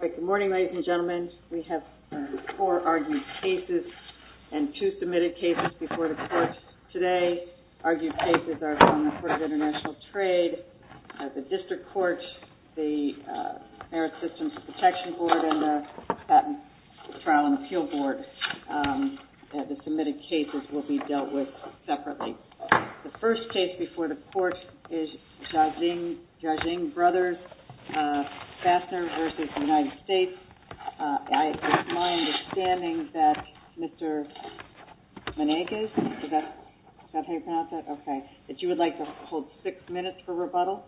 Good morning, ladies and gentlemen. We have four argued cases and two submitted cases before the courts today. Argued cases are from the Court of International Trade, the District Court, the Merit Systems Protection Board, and the Patent Trial and Appeal Board. The submitted cases will be dealt with separately. The first case before the court is Zhaoxing Brothers Fastener v. United States. It's my understanding that Mr. Meneghes, is that how you pronounce that? Okay. That you would like to hold six minutes for rebuttal.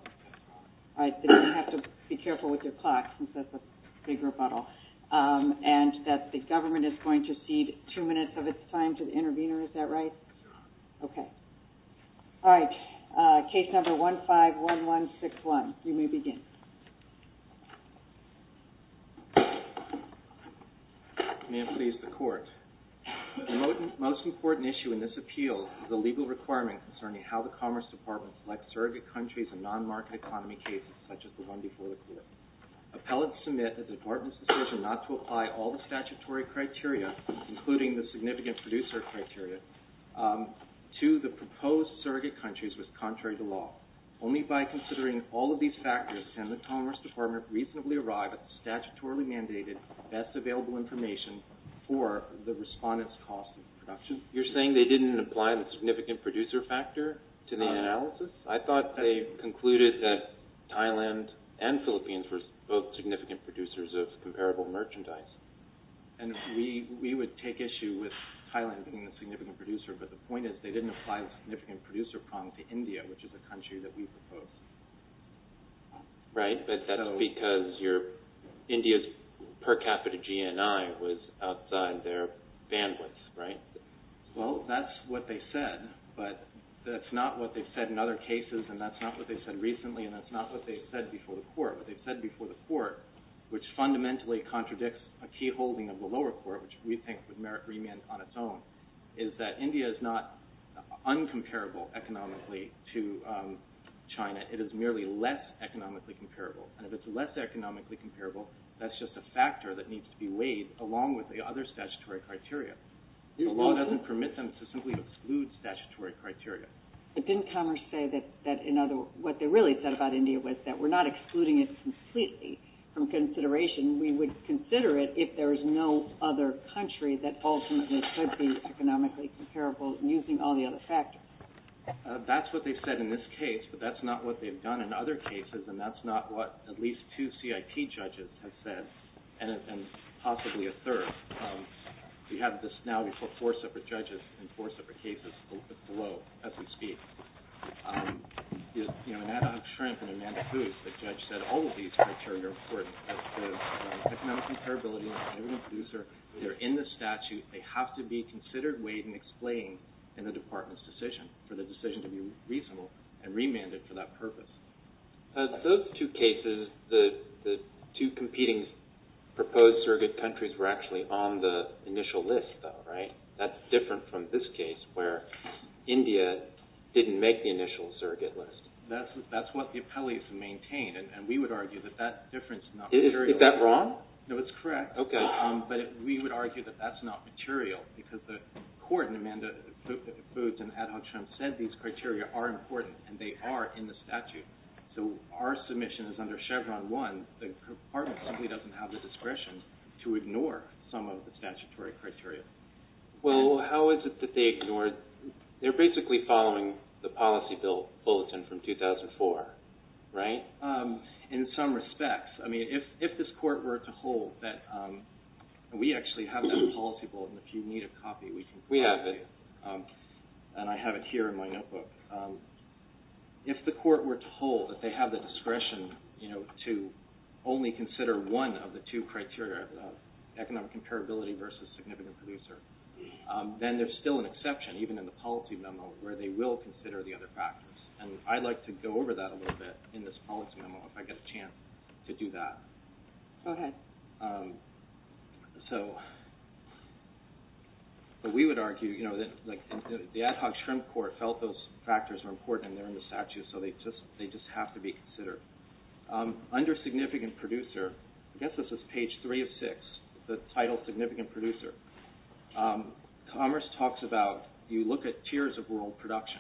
You have to be careful with your clock since that's a big rebuttal. And that the government is going to cede two minutes of its time to the intervener. Is that right? Okay. All right. Case number 151161. You may begin. May it please the court. The most important issue in this appeal is a legal requirement concerning how the Commerce Department selects surrogate countries in non-market economy cases such as the one before the court. Appellants submit that the department's decision not to apply all the statutory criteria, including the significant producer criteria, to the proposed surrogate countries was contrary to law. Only by considering all of these factors can the Commerce Department reasonably arrive at the statutorily mandated best available information for the respondent's cost of production. You're saying they didn't apply the significant producer factor to the analysis? I thought they concluded that Thailand and Philippines were both significant producers of comparable merchandise. And we would take issue with Thailand being the significant producer, but the point is they didn't apply the significant producer prong to India, which is a country that we proposed. Right, but that's because India's per capita GNI was outside their bandwidth, right? Well, that's what they said, but that's not what they've said in other cases, and that's not what they've said recently, and that's not what they've said before the court. What they've said before the court, which fundamentally contradicts a key holding of the lower court, which we think would merit remand on its own, is that India is not uncomparable economically to China. It is merely less economically comparable, and if it's less economically comparable, that's just a factor that needs to be weighed along with the other statutory criteria. The law doesn't permit them to simply exclude statutory criteria. But didn't Commerce say that what they really said about India was that we're not excluding it completely from consideration. We would consider it if there was no other country that ultimately could be economically comparable using all the other factors. That's what they've said in this case, but that's not what they've done in other cases, and that's not what at least two CIP judges have said, and possibly a third. We have this now before four separate judges and four separate cases below as we speak. In Adam Shrimp and Amanda Booth, the judge said all of these criteria are important. Economic comparability, the producer, they're in the statute. They have to be considered, weighed, and explained in the department's decision for the decision to be reasonable and remanded for that purpose. Those two cases, the two competing proposed surrogate countries were actually on the initial list, though, right? That's different from this case where India didn't make the initial surrogate list. That's what the appellees maintained, and we would argue that that difference is not material. Is that wrong? No, it's correct. Okay. But we would argue that that's not material because the court in Amanda Booth and Adam Shrimp said these criteria are important, and they are in the statute. So our submission is under Chevron 1. The department simply doesn't have the discretion to ignore some of the statutory criteria. Well, how is it that they ignore it? They're basically following the policy bulletin from 2004, right? In some respects. I mean, if this court were to hold that we actually have that policy bulletin, if you need a copy, we can copy it. We have it. And I have it here in my notebook. If the court were to hold that they have the discretion to only consider one of the two criteria, economic comparability versus significant producer, then there's still an exception, even in the policy memo, where they will consider the other factors. And I'd like to go over that a little bit in this policy memo if I get a chance to do that. Go ahead. But we would argue that the ad hoc Shrimp court felt those factors were important, and they're in the statute, so they just have to be considered. Under significant producer, I guess this is page 3 of 6, the title significant producer, Commerce talks about you look at tiers of world production,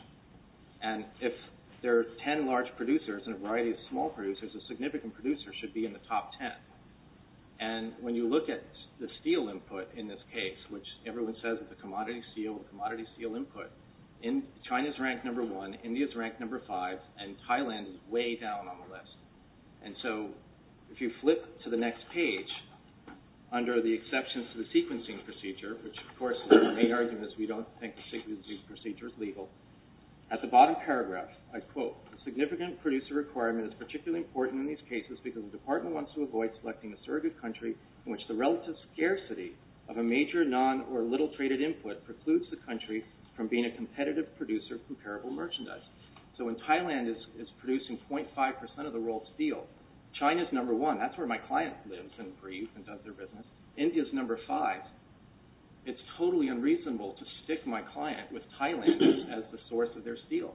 and if there are 10 large producers and a variety of small producers, a significant producer should be in the top 10. And when you look at the steel input in this case, which everyone says it's a commodity steel, a commodity steel input, China's ranked number one, India's ranked number five, and Thailand is way down on the list. And so if you flip to the next page, under the exceptions to the sequencing procedure, which of course in many arguments we don't think the sequencing procedure is legal, at the bottom paragraph I quote, significant producer requirement is particularly important in these cases because the department wants to avoid selecting a surrogate country in which the relative scarcity of a major, non, or little traded input precludes the country from being a competitive producer of comparable merchandise. So when Thailand is producing 0.5% of the world's steel, China's number one, that's where my client lives and breathes and does their business, India's number five, it's totally unreasonable to stick my client with Thailand as the source of their steel.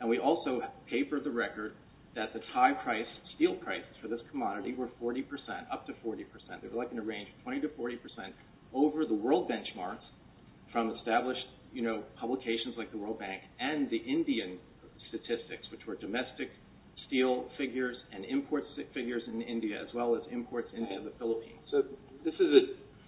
And we also paper the record that the Thai price steel price for this commodity were 40%, up to 40%, they were looking to range 20% to 40% over the world benchmarks from established publications like the World Bank and the Indian statistics, which were domestic steel figures and imports figures in India as well as imports in the Philippines. So this is a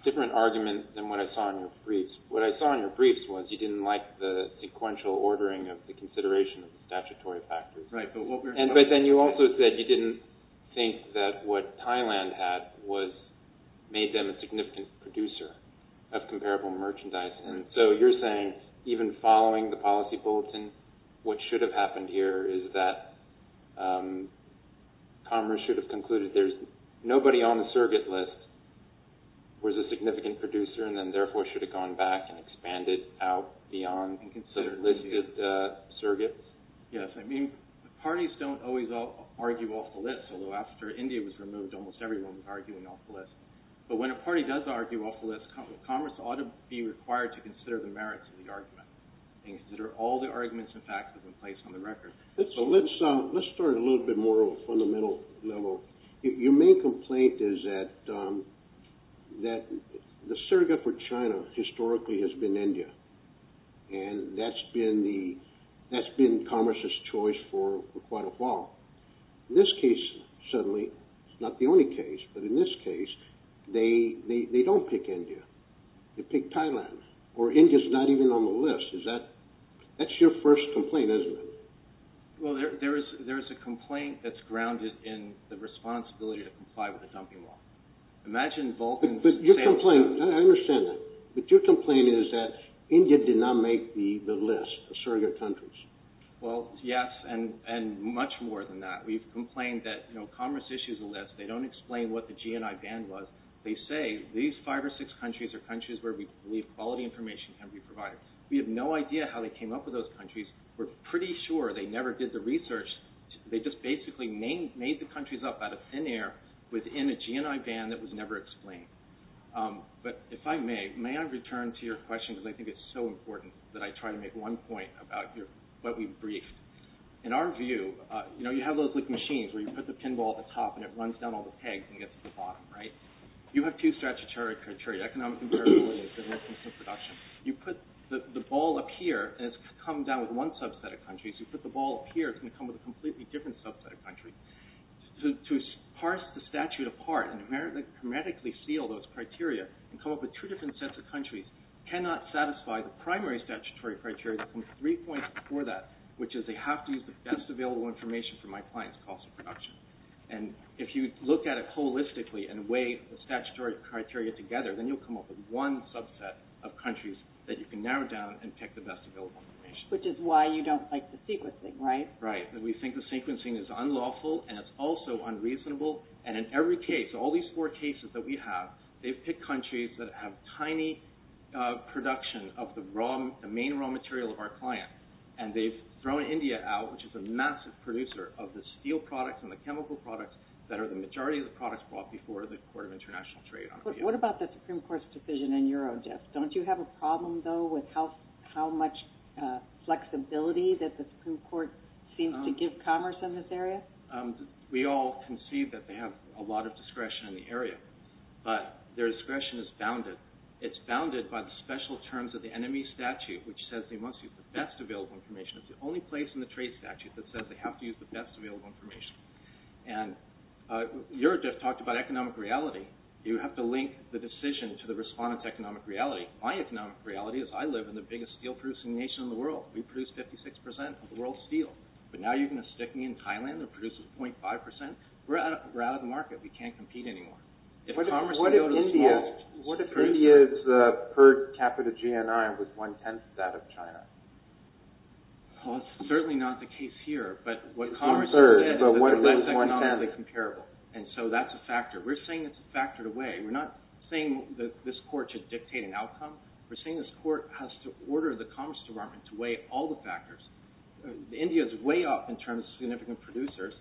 different argument than what I saw in your briefs. What I saw in your briefs was you didn't like the sequential ordering of the consideration of statutory factors. Right, but what we're... But then you also said you didn't think that what Thailand had made them a significant producer of comparable merchandise. And so you're saying even following the policy bulletin, what should have happened here is that commerce should have concluded there's nobody on the surrogate list was a significant producer and then therefore should have gone back and expanded out beyond the listed surrogates? Yes, I mean, parties don't always argue off the list, although after India was removed, almost everyone was arguing off the list. But when a party does argue off the list, commerce ought to be required to consider the merits of the argument and consider all the arguments and facts that have been placed on the record. So let's start a little bit more on a fundamental level. Your main complaint is that the surrogate for China historically has been India. And that's been commerce's choice for quite a while. In this case, certainly, it's not the only case, but in this case they don't pick India. They pick Thailand. Or India's not even on the list. That's your first complaint, isn't it? Well, there's a complaint that's grounded in the responsibility to comply with the dumping law. Imagine Vulcan... But your complaint, I understand that. But your complaint is that India did not make the list of surrogate countries. Well, yes, and much more than that. We've complained that commerce issues a list. They don't explain what the GNI ban was. They say these five or six countries are countries where we believe quality information can be provided. We have no idea how they came up with those countries. We're pretty sure they never did the research. They just basically made the countries up out of thin air within a GNI ban that was never explained. But if I may, may I return to your question, because I think it's so important that I try to make one point about what we briefed. In our view, you have those machines where you put the pinball at the top and it runs down all the pegs and gets to the bottom, right? You have two statutory criteria, economic imperability and business and production. You put the ball up here, and it's come down with one subset of countries. You put the ball up here, it's going to come with a completely different subset of countries. To parse the statute apart and hermetically seal those criteria and come up with two different sets of countries cannot satisfy the primary statutory criteria that comes three points before that, which is they have to use the best available information for my client's cost of production. If you look at it holistically and weigh the statutory criteria together, then you'll come up with one subset of countries that you can narrow down and pick the best available information. Which is why you don't like the sequencing, right? Right. We think the sequencing is unlawful and it's also unreasonable. And in every case, all these four cases that we have, they've picked countries that have tiny production of the main raw material of our client. And they've thrown India out, which is a massive producer of the steel products and the chemical products that are the majority of the products brought before the Court of International Trade. What about the Supreme Court's decision in Eurogif? Don't you have a problem, though, with how much flexibility that the Supreme Court seems to give commerce in this area? Well, we all can see that they have a lot of discretion in the area. But their discretion is bounded. It's bounded by the special terms of the NME statute, which says they must use the best available information. It's the only place in the trade statute that says they have to use the best available information. And Eurogif talked about economic reality. You have to link the decision to the respondent's economic reality. My economic reality is I live in the biggest steel-producing nation in the world. We produce 56% of the world's steel. But now you're going to stick me in Thailand that produces 0.5%? We're out of the market. We can't compete anymore. What if India's per capita GNI was one-tenth that of China? Well, that's certainly not the case here. But what commerce did is that they're less economically comparable. And so that's a factor. We're saying it's a factor to weigh. We're not saying that this court should dictate an outcome. We're saying this court has to order the Commerce Department to weigh all the factors. India's way up in terms of significant producers,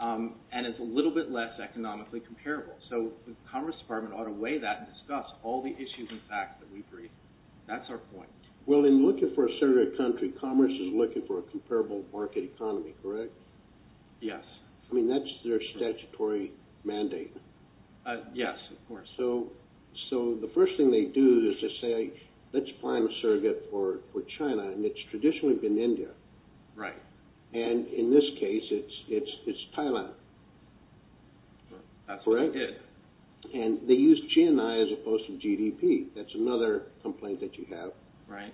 and it's a little bit less economically comparable. So the Commerce Department ought to weigh that and discuss all the issues and facts that we bring. That's our point. Well, in looking for a surrogate country, commerce is looking for a comparable market economy, correct? Yes. I mean, that's their statutory mandate. Yes, of course. So the first thing they do is just say, let's find a surrogate for China. And it's traditionally been India. Right. And in this case, it's Thailand. That's what they did. And they used GNI as opposed to GDP. That's another complaint that you have. Right.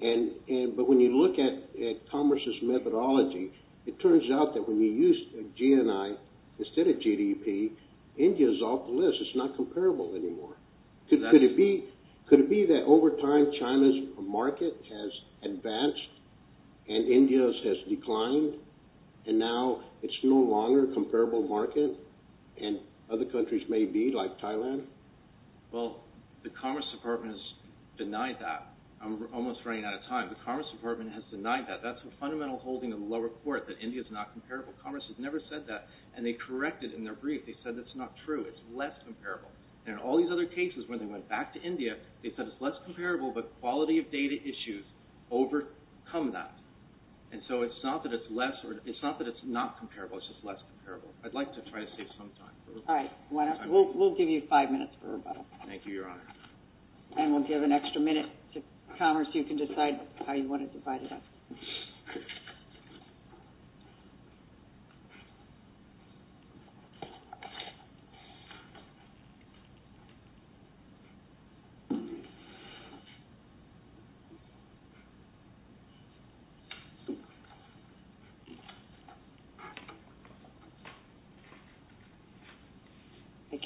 But when you look at commerce's methodology, it turns out that when you use GNI instead of GDP, India's off the list. It's not comparable anymore. Could it be that over time, China's market has advanced and India's has declined, and now it's no longer a comparable market? And other countries may be, like Thailand? Well, the Commerce Department has denied that. I'm almost running out of time. The Commerce Department has denied that. That's a fundamental holding of the lower court, that India's not comparable. Commerce has never said that. And they corrected in their brief. They said that's not true. It's less comparable. And in all these other cases, when they went back to India, they said it's less comparable, but quality of data issues overcome that. And so it's not that it's not comparable. It's just less comparable. I'd like to try to save some time. All right. We'll give you five minutes for rebuttal. Thank you, Your Honor. And we'll give an extra minute to Commerce. You can decide how you want to divide it up.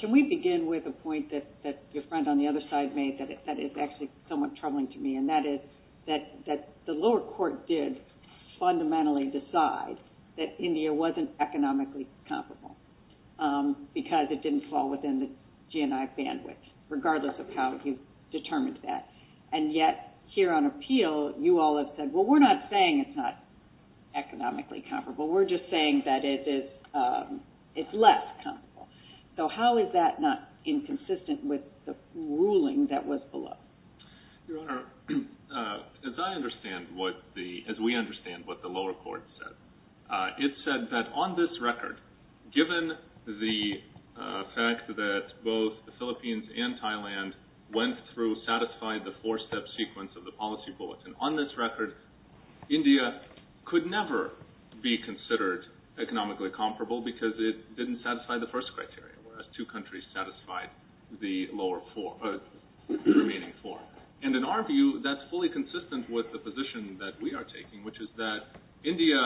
Can we begin with a point that your friend on the other side made that is actually somewhat troubling to me? And that is that the lower court did fundamentally decide that India wasn't economically comparable because it didn't fall within the GNI bandwidth, regardless of how you determined that. And yet, here on appeal, you all have said, well, we're not saying it's not economically comparable. We're just saying that it's less comparable. So how is that not inconsistent with the ruling that was below? Your Honor, as I understand what the – as we understand what the lower court said, it said that on this record, given the fact that both the Philippines and Thailand went through, satisfied the four-step sequence of the policy bulletin, on this record, India could never be considered economically comparable because it didn't satisfy the first criteria, whereas two countries satisfied the lower – the remaining four. And in our view, that's fully consistent with the position that we are taking, which is that India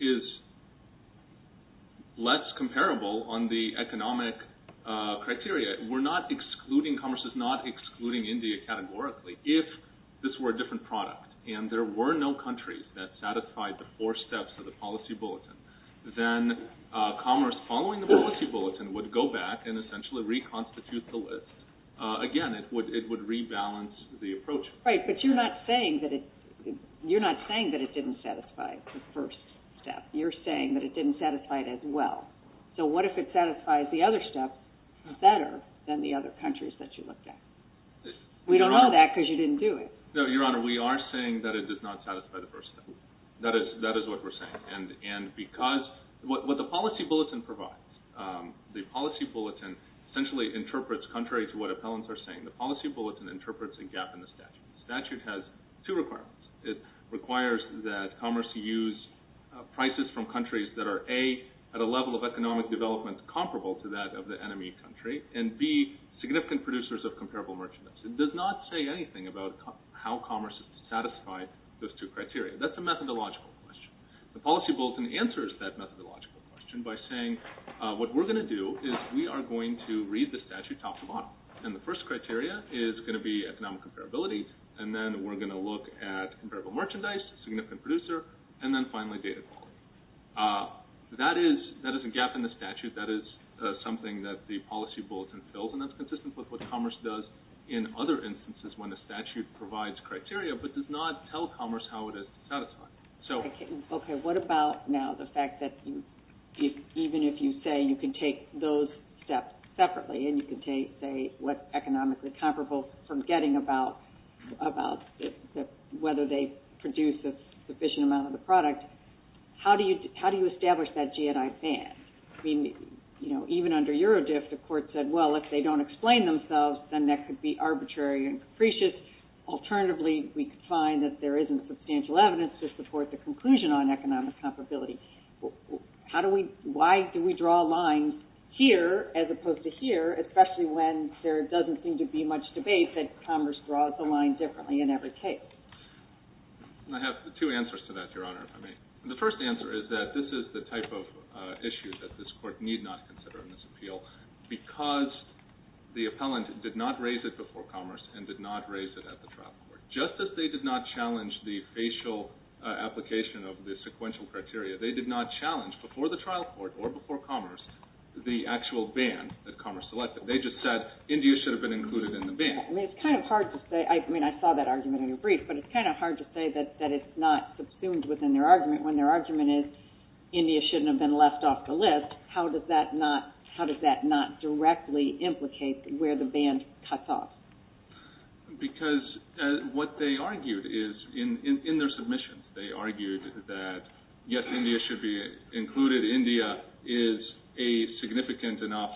is less comparable on the economic criteria. We're not excluding – Commerce is not excluding India categorically. If this were a different product and there were no countries that satisfied the four steps of the policy bulletin, then Commerce, following the policy bulletin, would go back and essentially reconstitute the list. Again, it would rebalance the approach. Right, but you're not saying that it – you're not saying that it didn't satisfy the first step. You're saying that it didn't satisfy it as well. So what if it satisfies the other steps better than the other countries that you looked at? We don't know that because you didn't do it. No, Your Honor, we are saying that it does not satisfy the first step. That is what we're saying. And because – what the policy bulletin provides, the policy bulletin essentially interprets, contrary to what appellants are saying, the policy bulletin interprets a gap in the statute. The statute has two requirements. It requires that Commerce use prices from countries that are, A, at a level of economic development comparable to that of the enemy country, and, B, significant producers of comparable merchandise. It does not say anything about how Commerce is to satisfy those two criteria. That's a methodological question. The policy bulletin answers that methodological question by saying what we're going to do is we are going to read the statute top to bottom. And the first criteria is going to be economic comparability, and then we're going to look at comparable merchandise, significant producer, and then finally data quality. That is a gap in the statute. That is something that the policy bulletin fills, and that's consistent with what Commerce does in other instances when the statute provides criteria but does not tell Commerce how it is to satisfy. Okay. What about now the fact that even if you say you can take those steps separately and you can say what's economically comparable from getting about whether they produce a sufficient amount of the product, how do you establish that G&I band? I mean, you know, even under Eurodiff, the court said, well, if they don't explain themselves, then that could be arbitrary and capricious. Alternatively, we could find that there isn't substantial evidence to support the conclusion on economic comparability. How do we – why do we draw a line here as opposed to here, especially when there doesn't seem to be much debate that Commerce draws a line differently in every case? I have two answers to that, Your Honor, if I may. The first answer is that this is the type of issue that this Court need not consider in this appeal because the appellant did not raise it before Commerce and did not raise it at the trial court. Just as they did not challenge the facial application of the sequential criteria, they did not challenge before the trial court or before Commerce the actual band that Commerce selected. They just said India should have been included in the band. Okay. I mean, it's kind of hard to say – I mean, I saw that argument in your brief, but it's kind of hard to say that it's not subsumed within their argument when their argument is India shouldn't have been left off the list. How does that not – how does that not directly implicate where the band cuts off? Because what they argued is, in their submissions, they argued that, yes, India should be included, India is a significant enough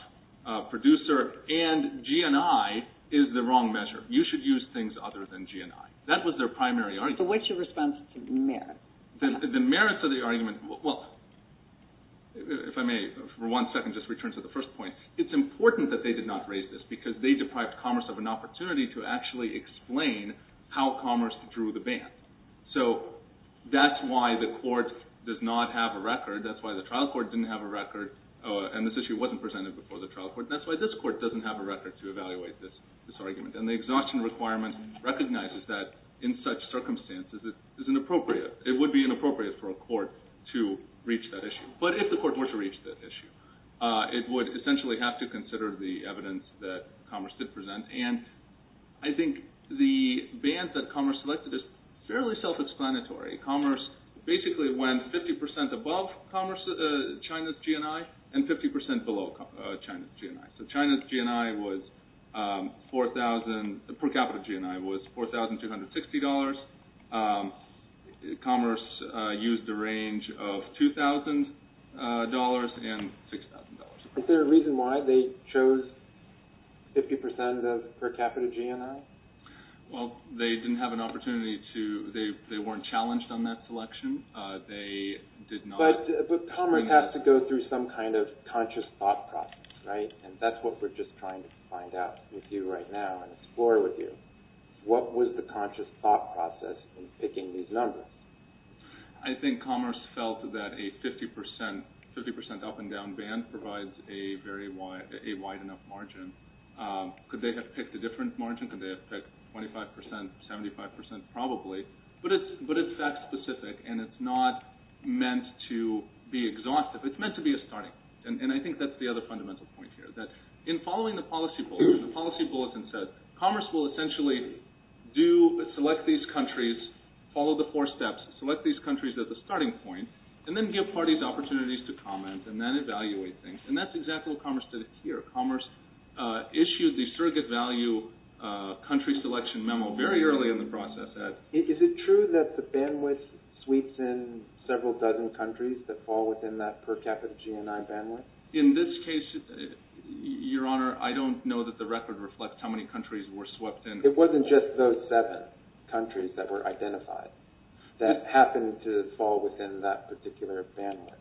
producer, and GNI is the wrong measure. You should use things other than GNI. That was their primary argument. So what's your response to the merits? The merits of the argument – well, if I may for one second just return to the first point. It's important that they did not raise this because they deprived Commerce of an opportunity to actually explain how Commerce drew the band. So that's why the court does not have a record. That's why the trial court didn't have a record, and this issue wasn't presented before the trial court. That's why this court doesn't have a record to evaluate this argument. And the exhaustion requirement recognizes that in such circumstances it isn't appropriate. It would be inappropriate for a court to reach that issue. But if the court were to reach that issue, it would essentially have to consider the evidence that Commerce did present. And I think the band that Commerce selected is fairly self-explanatory. Commerce basically went 50% above China's GNI and 50% below China's GNI. So China's per capita GNI was $4,260. Commerce used a range of $2,000 and $6,000. Is there a reason why they chose 50% of per capita GNI? Well, they didn't have an opportunity to – they weren't challenged on that selection. But Commerce has to go through some kind of conscious thought process, right? And that's what we're just trying to find out with you right now and explore with you. What was the conscious thought process in picking these numbers? I think Commerce felt that a 50% up and down band provides a wide enough margin. Could they have picked a different margin? Could they have picked 25%, 75%? Probably, but it's fact-specific and it's not meant to be exhaustive. It's meant to be a starting. And I think that's the other fundamental point here, that in following the policy bulletin, the policy bulletin said, Commerce will essentially select these countries, follow the four steps, select these countries as a starting point, and then give parties opportunities to comment and then evaluate things. And that's exactly what Commerce did here. Commerce issued the surrogate value country selection memo very early in the process. Is it true that the bandwidth sweeps in several dozen countries that fall within that per capita GNI bandwidth? In this case, Your Honor, I don't know that the record reflects how many countries were swept in. It wasn't just those seven countries that were identified that happened to fall within that particular bandwidth.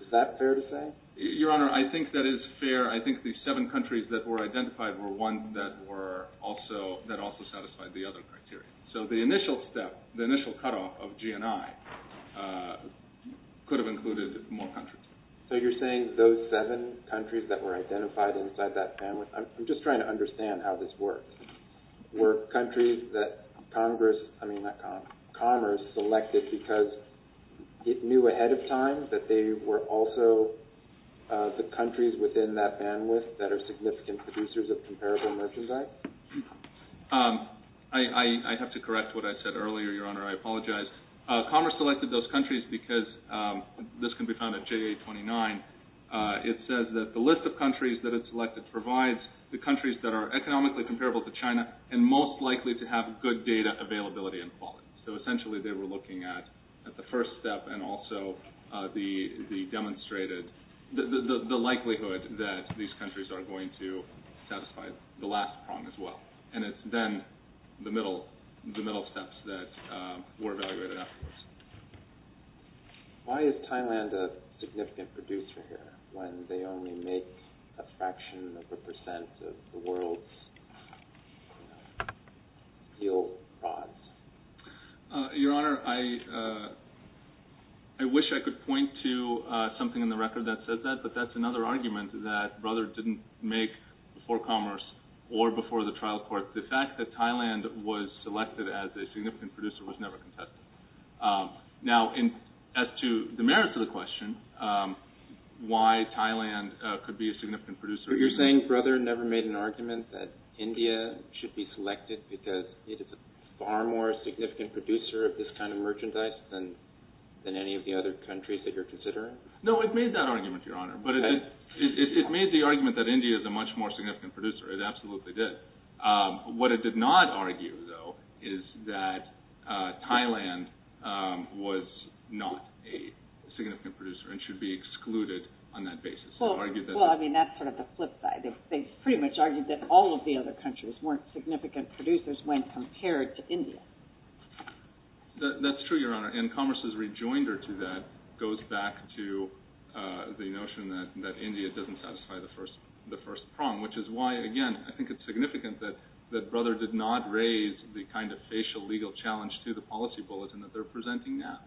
Is that fair to say? Your Honor, I think that is fair. I think the seven countries that were identified were ones that also satisfied the other criteria. So the initial step, the initial cutoff of GNI could have included more countries. So you're saying those seven countries that were identified inside that bandwidth – I'm just trying to understand how this works. Were countries that Commerce selected because it knew ahead of time that they were also the countries within that bandwidth that are significant producers of comparable merchandise? I have to correct what I said earlier, Your Honor. I apologize. Commerce selected those countries because – this can be found at JA-29. It says that the list of countries that it selected provides the countries that are economically comparable to China and most likely to have good data availability and quality. So essentially they were looking at the first step and also the demonstrated – the likelihood that these countries are going to satisfy the last prong as well. And it's then the middle steps that were evaluated afterwards. Why is Thailand a significant producer here when they only make a fraction of a percent of the world's steel prods? Your Honor, I wish I could point to something in the record that says that, but that's another argument that Brother didn't make before Commerce or before the trial court. The fact that Thailand was selected as a significant producer was never contested. Now, as to the merits of the question, why Thailand could be a significant producer – So you're saying Brother never made an argument that India should be selected because it is a far more significant producer of this kind of merchandise than any of the other countries that you're considering? No, it made that argument, Your Honor. But it made the argument that India is a much more significant producer. It absolutely did. What it did not argue, though, is that Thailand was not a significant producer and should be excluded on that basis. Well, I mean, that's sort of the flip side. They pretty much argued that all of the other countries weren't significant producers when compared to India. That's true, Your Honor. And Commerce's rejoinder to that goes back to the notion that India doesn't satisfy the first prong, which is why, again, I think it's significant that Brother did not raise the kind of facial legal challenge to the policy bulletin that they're presenting now.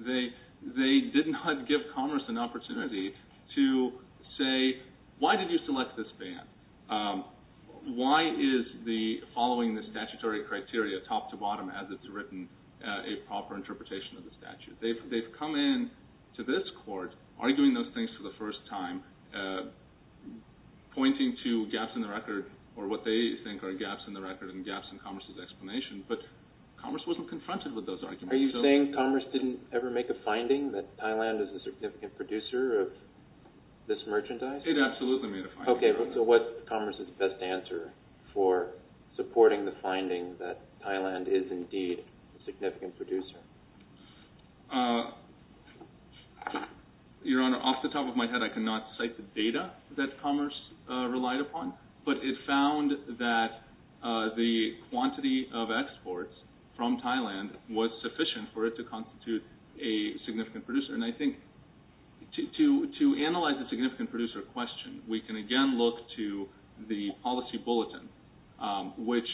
They did not give Commerce an opportunity to say, why did you select this ban? Why is following the statutory criteria top to bottom as it's written a proper interpretation of the statute? They've come in to this court arguing those things for the first time, pointing to gaps in the record or what they think are gaps in the record and gaps in Commerce's explanation, but Commerce wasn't confronted with those arguments. Are you saying Commerce didn't ever make a finding that Thailand is a significant producer of this merchandise? It absolutely made a finding. Okay, so what's Commerce's best answer for supporting the finding that Thailand is indeed a significant producer? Your Honor, off the top of my head, I cannot cite the data that Commerce relied upon, but it found that the quantity of exports from Thailand was sufficient for it to constitute a significant producer. And I think to analyze the significant producer question, we can again look to the policy bulletin, which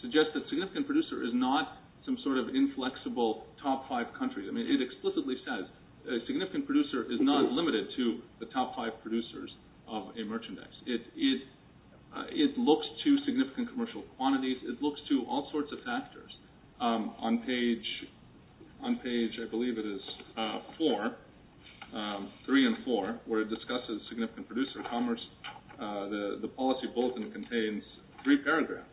suggests that significant producer is not some sort of inflexible top five country. I mean, it explicitly says a significant producer is not limited to the top five producers of a merchandise. It looks to significant commercial quantities. It looks to all sorts of factors. On page, I believe it is four, three and four, where it discusses significant producer of Commerce, the policy bulletin contains three paragraphs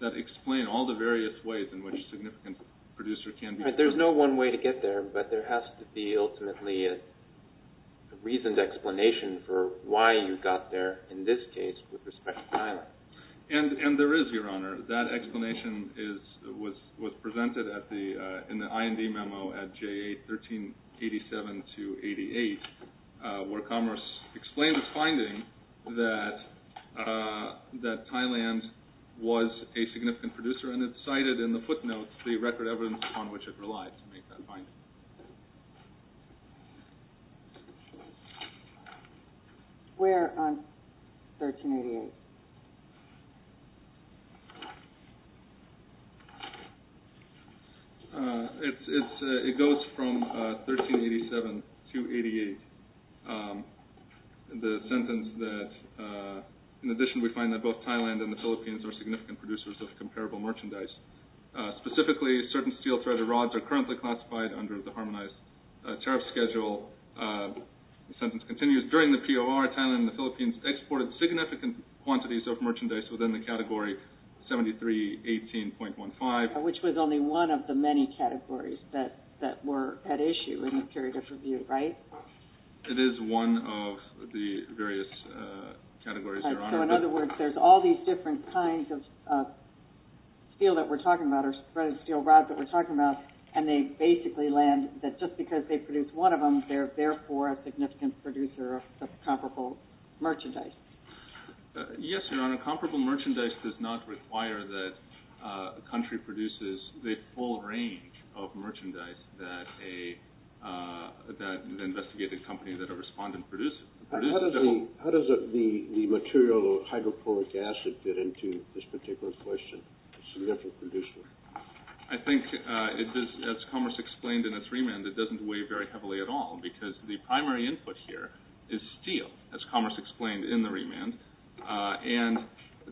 that explain all the various ways in which a significant producer can be produced. There's no one way to get there, but there has to be ultimately a reasoned explanation for why you got there, in this case, with respect to Thailand. And there is, Your Honor. That explanation was presented in the IND memo at J1387-88, where Commerce explained its finding that Thailand was a significant producer, and it cited in the footnotes the record evidence upon which it relied to make that finding. Where on 1388? It goes from 1387 to 88. The sentence that, in addition, we find that both Thailand and the Philippines are significant producers of comparable merchandise. Specifically, certain steel threaded rods are currently classified under the harmonized tariff schedule. The sentence continues, during the POR, Thailand and the Philippines exported significant quantities of merchandise within the category 7318.15. Which was only one of the many categories that were at issue in the period of review, right? It is one of the various categories, Your Honor. So, in other words, there's all these different kinds of steel that we're talking about, or threaded steel rods that we're talking about, and they basically land that just because they produce one of them, they're therefore a significant producer of comparable merchandise. Yes, Your Honor. Comparable merchandise does not require that a country produces the full range of merchandise that an investigating company that a respondent produces. How does the material, the hydroponic acid, fit into this particular question, significant producer? I think, as Commerce explained in its remand, it doesn't weigh very heavily at all, because the primary input here is steel, as Commerce explained in the remand. And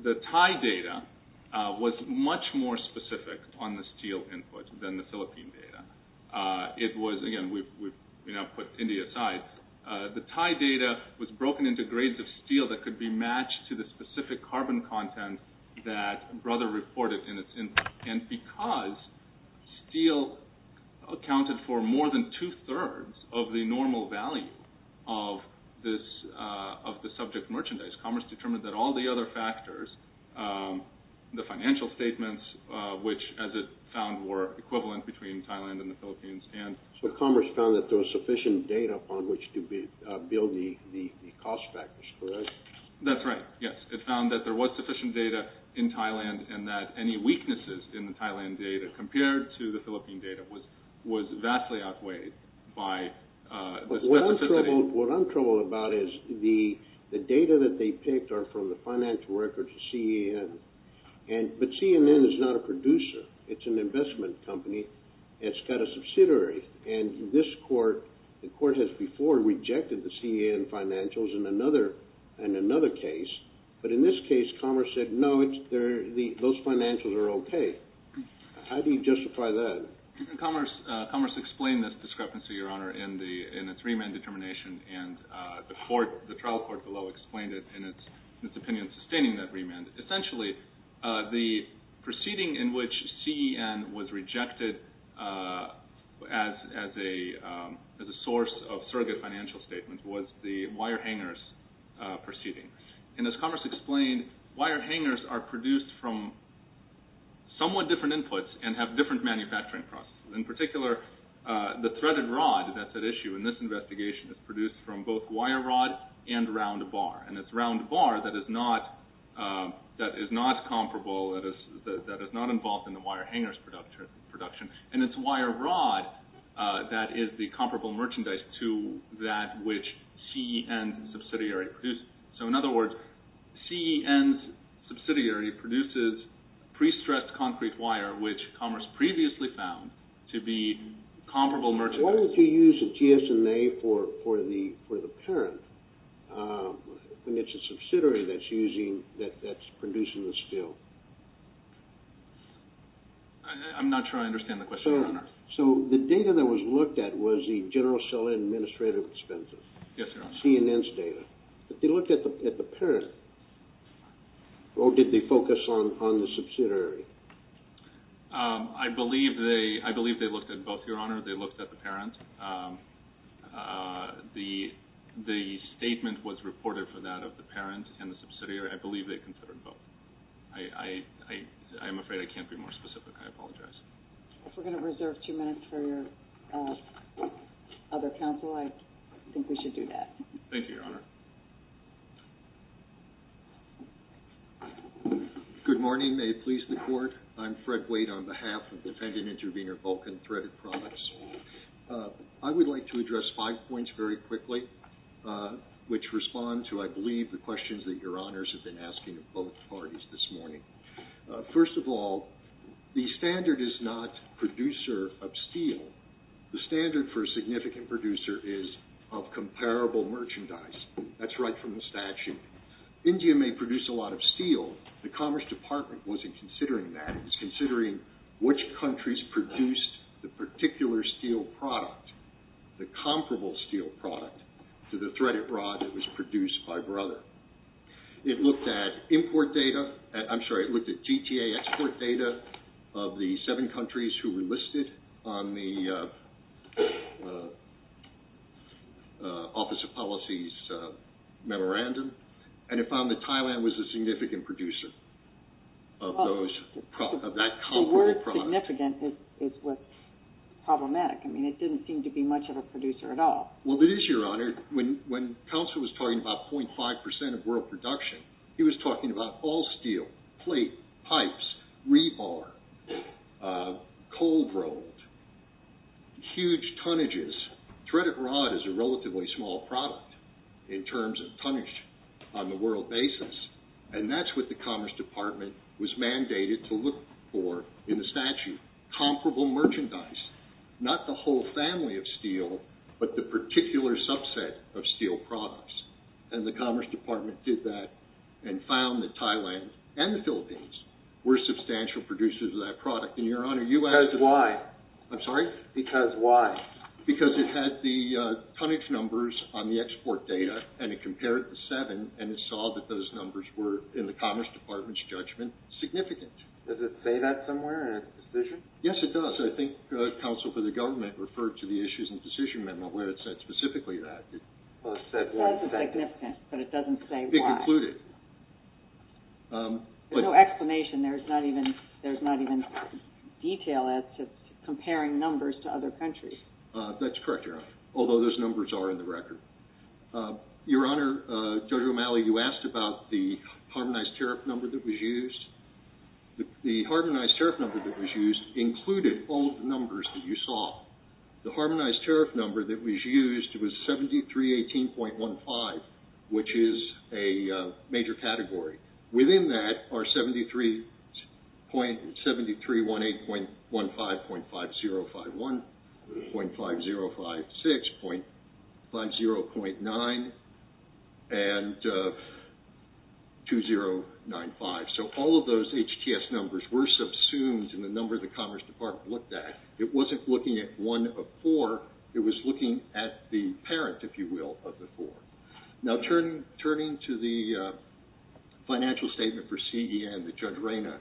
the Thai data was much more specific on the steel input than the Philippine data. Again, we've put India aside. The Thai data was broken into grades of steel that could be matched to the specific carbon content that Brother reported in its input. And because steel accounted for more than two-thirds of the normal value of the subject merchandise, Commerce determined that all the other factors, the financial statements, which, as it found, were equivalent between Thailand and the Philippines. So Commerce found that there was sufficient data upon which to build the cost factors, correct? That's right, yes. It found that there was sufficient data in Thailand, and that any weaknesses in the Thailand data compared to the Philippine data was vastly outweighed by the specificity. What I'm troubled about is the data that they picked are from the financial records of CEN. But CEN is not a producer. It's an investment company. It's got a subsidiary. And this court, the court has before rejected the CEN financials in another case. But in this case, Commerce said, no, those financials are okay. How do you justify that? Commerce explained this discrepancy, Your Honor, in its remand determination, and the trial court below explained it in its opinion sustaining that remand. Essentially, the proceeding in which CEN was rejected as a source of surrogate financial statements was the wire hangers proceeding. And as Commerce explained, wire hangers are produced from somewhat different inputs and have different manufacturing processes. In particular, the threaded rod that's at issue in this investigation is produced from both wire rod and round bar. And it's round bar that is not comparable, that is not involved in the wire hangers production. And it's wire rod that is the comparable merchandise to that which CEN subsidiary produced. So in other words, CEN's subsidiary produces pre-stressed concrete wire, which Commerce previously found to be comparable merchandise. Why would you use a GSMA for the parent when it's a subsidiary that's using, that's producing the steel? I'm not sure I understand the question, Your Honor. So the data that was looked at was the general seller administrative expenses. Yes, Your Honor. Not CNN's data. If you look at the parent, or did they focus on the subsidiary? I believe they looked at both, Your Honor. They looked at the parent. The statement was reported for that of the parent and the subsidiary. I believe they considered both. I'm afraid I can't be more specific. I apologize. If we're going to reserve two minutes for your other counsel, I think we should do that. Thank you, Your Honor. Good morning. May it please the Court. I'm Fred Waite on behalf of defendant-intervenor Vulcan Threaded Products. I would like to address five points very quickly, which respond to, I believe, the questions that Your Honors have been asking of both parties this morning. First of all, the standard is not producer of steel. The standard for a significant producer is of comparable merchandise. That's right from the statute. India may produce a lot of steel. The Commerce Department wasn't considering that. It was considering which countries produced the particular steel product, the comparable steel product, to the threaded rod that was produced by Brother. It looked at GTA export data of the seven countries who were listed on the Office of Policy's memorandum, and it found that Thailand was a significant producer of that comparable product. The word significant is problematic. It didn't seem to be much of a producer at all. When Counselor was talking about .5% of world production, he was talking about all steel, plate, pipes, rebar, cold rolled, huge tonnages. Threaded rod is a relatively small product in terms of tonnage on the world basis, and that's what the Commerce Department was mandated to look for in the statute. Comparable merchandise. Not the whole family of steel, but the particular subset of steel products. And the Commerce Department did that and found that Thailand and the Philippines were substantial producers of that product. Because why? I'm sorry? Because why? Because it had the tonnage numbers on the export data, and it compared it to seven, and it saw that those numbers were, in the Commerce Department's judgment, significant. Does it say that somewhere in its decision? Yes, it does. I think Counsel for the Government referred to the Issues and Decision Amendment where it said specifically that. Well, it said why. It says significant, but it doesn't say why. It concluded. There's no explanation. There's not even detail as to comparing numbers to other countries. That's correct, Your Honor, although those numbers are in the record. Your Honor, Judge O'Malley, you asked about the harmonized tariff number that was used. The harmonized tariff number that was used included all of the numbers that you saw. The harmonized tariff number that was used was 7318.15, which is a major category. Within that are 7318.15, .5051, .5056, .50.9, and 2095. So all of those HTS numbers were subsumed in the number the Commerce Department looked at. It wasn't looking at one of four. It was looking at the parent, if you will, of the four. Now, turning to the financial statement for CEN that Judge Reyna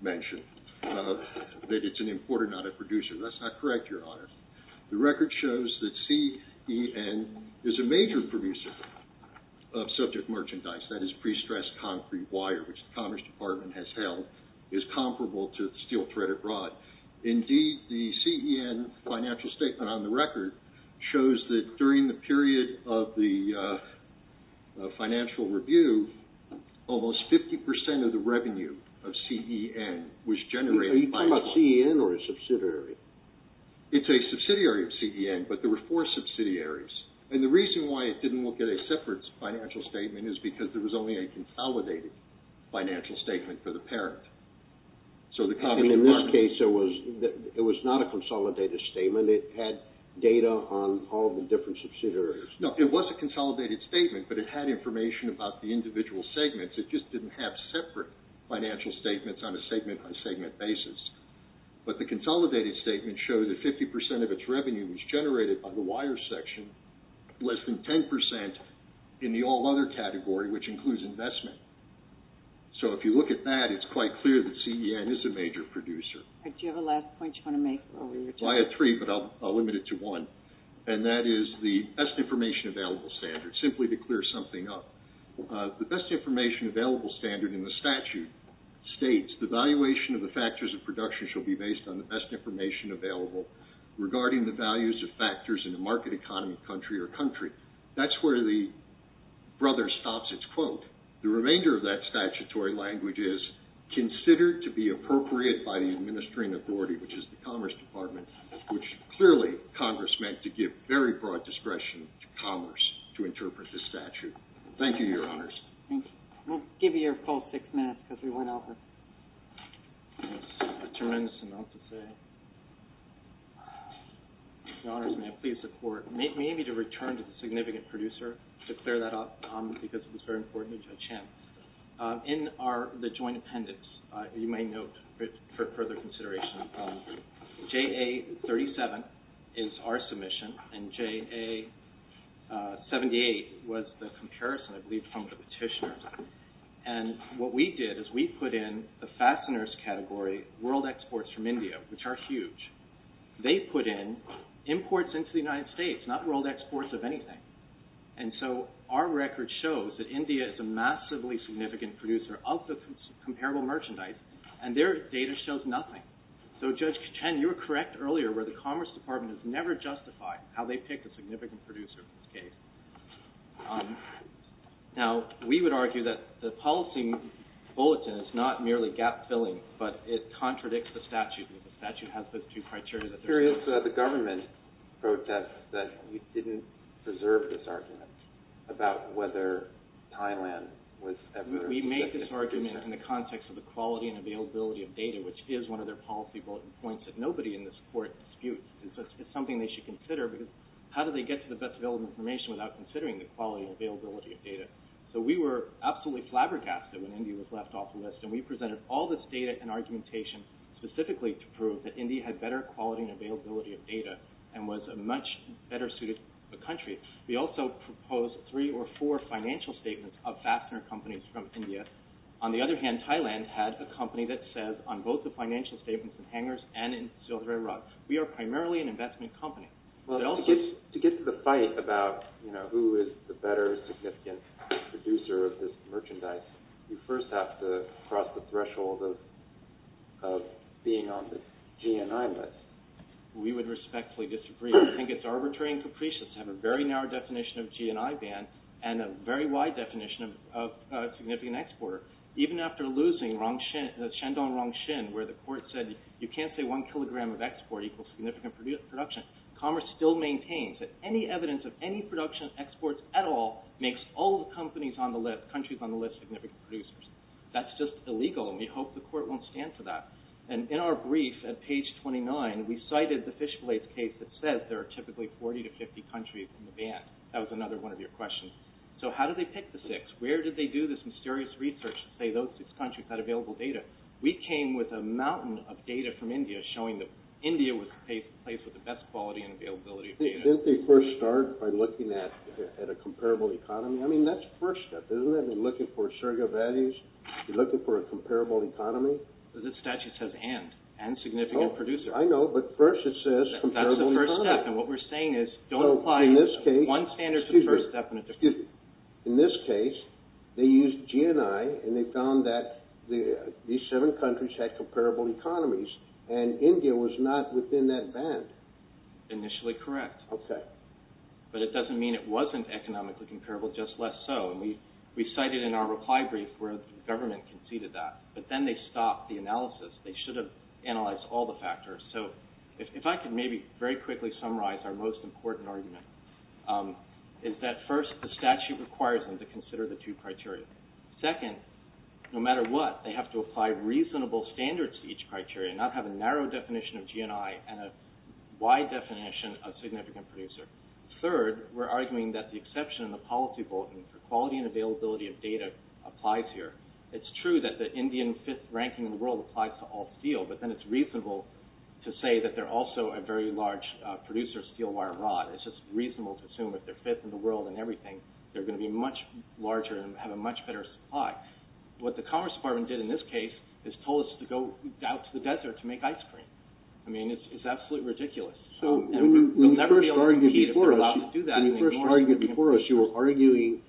mentioned, that it's an importer, not a producer. That's not correct, Your Honor. The record shows that CEN is a major producer of subject merchandise. That is prestressed concrete wire, which the Commerce Department has held is comparable to steel threaded rod. Indeed, the CEN financial statement on the record shows that during the period of the financial review, almost 50% of the revenue of CEN was generated by... Are you talking about CEN or a subsidiary? It's a subsidiary of CEN, but there were four subsidiaries. And the reason why it didn't look at a separate financial statement is because there was only a consolidated financial statement for the parent. In this case, it was not a consolidated statement. It had data on all the different subsidiaries. No, it was a consolidated statement, but it had information about the individual segments. It just didn't have separate financial statements on a segment-by-segment basis. But the consolidated statement showed that 50% of its revenue was generated by the wire section, less than 10% in the all other category, which includes investment. So if you look at that, it's quite clear that CEN is a major producer. Do you have a last point you want to make? I have three, but I'll limit it to one. And that is the best information available standard, simply to clear something up. The best information available standard in the statute states, the valuation of the factors of production shall be based on the best information available regarding the values of factors in a market economy, country, or country. That's where the brother stops its quote. The remainder of that statutory language is considered to be appropriate by the administering authority, which is the Commerce Department, which clearly Congress meant to give very broad discretion to commerce to interpret this statute. Thank you, Your Honors. Thank you. We'll give you your full six minutes because we went over. That's a tremendous amount to say. Your Honors, may I please support, maybe to return to the significant producer to clear that up because it was very important to Judge Hemp. In the joint appendix, you may note for further consideration, JA-37 is our submission and JA-78 was the comparison, I believe, from the petitioner. And what we did is we put in the fasteners category, world exports from India, which are huge. They put in imports into the United States, not world exports of anything. And so our record shows that India is a massively significant producer of the comparable merchandise, and their data shows nothing. So, Judge Hemp, you were correct earlier where the Commerce Department has never justified how they picked a significant producer in this case. Now, we would argue that the policy bulletin is not merely gap-filling, but it contradicts the statute. The government protests that we didn't preserve this argument about whether Thailand was... We make this argument in the context of the quality and availability of data, which is one of their policy bulletin points that nobody in this court disputes. It's something they should consider because how do they get to the best available information without considering the quality and availability of data? So we were absolutely flabbergasted when India was left off the list, and we presented all this data and argumentation, specifically to prove that India had better quality and availability of data and was a much better suited country. We also proposed three or four financial statements of fastener companies from India. On the other hand, Thailand had a company that says on both the financial statements in hangars and in Silk Road, we are primarily an investment company. Well, to get to the fight about who is the better significant producer of this merchandise, you first have to cross the threshold of being on the GNI list. We would respectfully disagree. I think it's arbitrary and capricious to have a very narrow definition of GNI ban and a very wide definition of significant exporter. Even after losing Shendong-Rongshin, where the court said you can't say one kilogram of export equals significant production, Commerce still maintains that any evidence of any production of exports at all makes all the countries on the list significant producers. That's just illegal, and we hope the court won't stand for that. In our brief at page 29, we cited the Fish Blades case that says there are typically 40 to 50 countries in the ban. That was another one of your questions. So how did they pick the six? Where did they do this mysterious research to say those six countries had available data? We came with a mountain of data from India showing that India was the place with the best quality and availability of data. Didn't they first start by looking at a comparable economy? I mean, that's the first step, isn't it? I mean, looking for surrogate values, looking for a comparable economy. The statute says and, and significant producer. I know, but first it says comparable economy. That's the first step, and what we're saying is don't apply one standard to the first step. Excuse me. In this case, they used GNI, and they found that these seven countries had comparable economies, and India was not within that band. Initially correct. Okay. But it doesn't mean it wasn't economically comparable, just less so. We cited in our reply brief where the government conceded that, but then they stopped the analysis. They should have analyzed all the factors. So if I could maybe very quickly summarize our most important argument is that first the statute requires them to consider the two criteria. Second, no matter what, they have to apply reasonable standards to each criteria, not have a narrow definition of GNI and a wide definition of significant producer. Third, we're arguing that the exception in the policy bulletin for quality and availability of data applies here. It's true that the Indian fifth ranking in the world applies to all steel, but then it's reasonable to say that they're also a very large producer of steel wire rod. It's just reasonable to assume if they're fifth in the world in everything, they're going to be much larger and have a much better supply. What the Commerce Department did in this case is told us to go out to the desert to make ice cream. I mean, it's absolutely ridiculous. When you first argued before us, you were arguing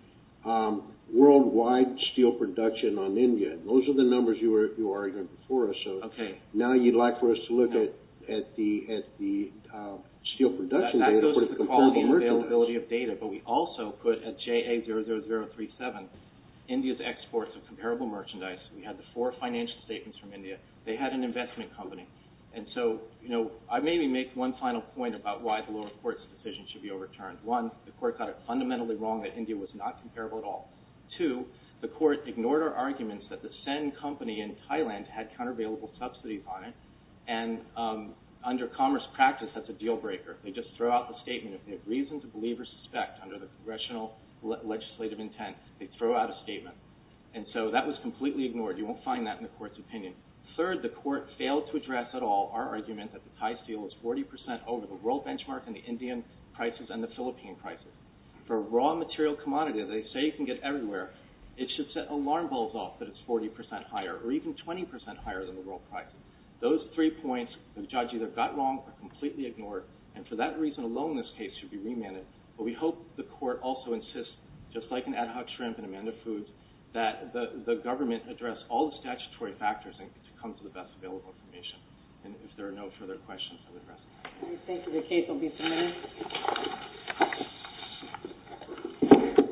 worldwide steel production on India. Those are the numbers you argued before us. So now you'd like for us to look at the steel production data for the comparable merchandise. But we also put at JA00037, India's exports of comparable merchandise. We had the four financial statements from India. They had an investment company. And so I maybe make one final point about why the lower court's decision should be overturned. One, the court got it fundamentally wrong that India was not comparable at all. Two, the court ignored our arguments that the Sen company in Thailand had countervailable subsidies on it. And under commerce practice, that's a deal breaker. They just throw out the statement. If they have reason to believe or suspect under the congressional legislative intent, they throw out a statement. And so that was completely ignored. You won't find that in the court's opinion. Third, the court failed to address at all our argument that the Thai steel is 40 percent over the world benchmark in the Indian prices and the Philippine prices. For a raw material commodity that they say you can get everywhere, it should set alarm bells off that it's 40 percent higher or even 20 percent higher than the world price. Those three points, the judge either got wrong or completely ignored. And for that reason alone, this case should be remanded. But we hope the court also insists, just like in Ad Hoc Shrimp and Amanda Foods, that the government address all the statutory factors to come to the best available information. And if there are no further questions, I will address them. Thank you. The case will be submitted.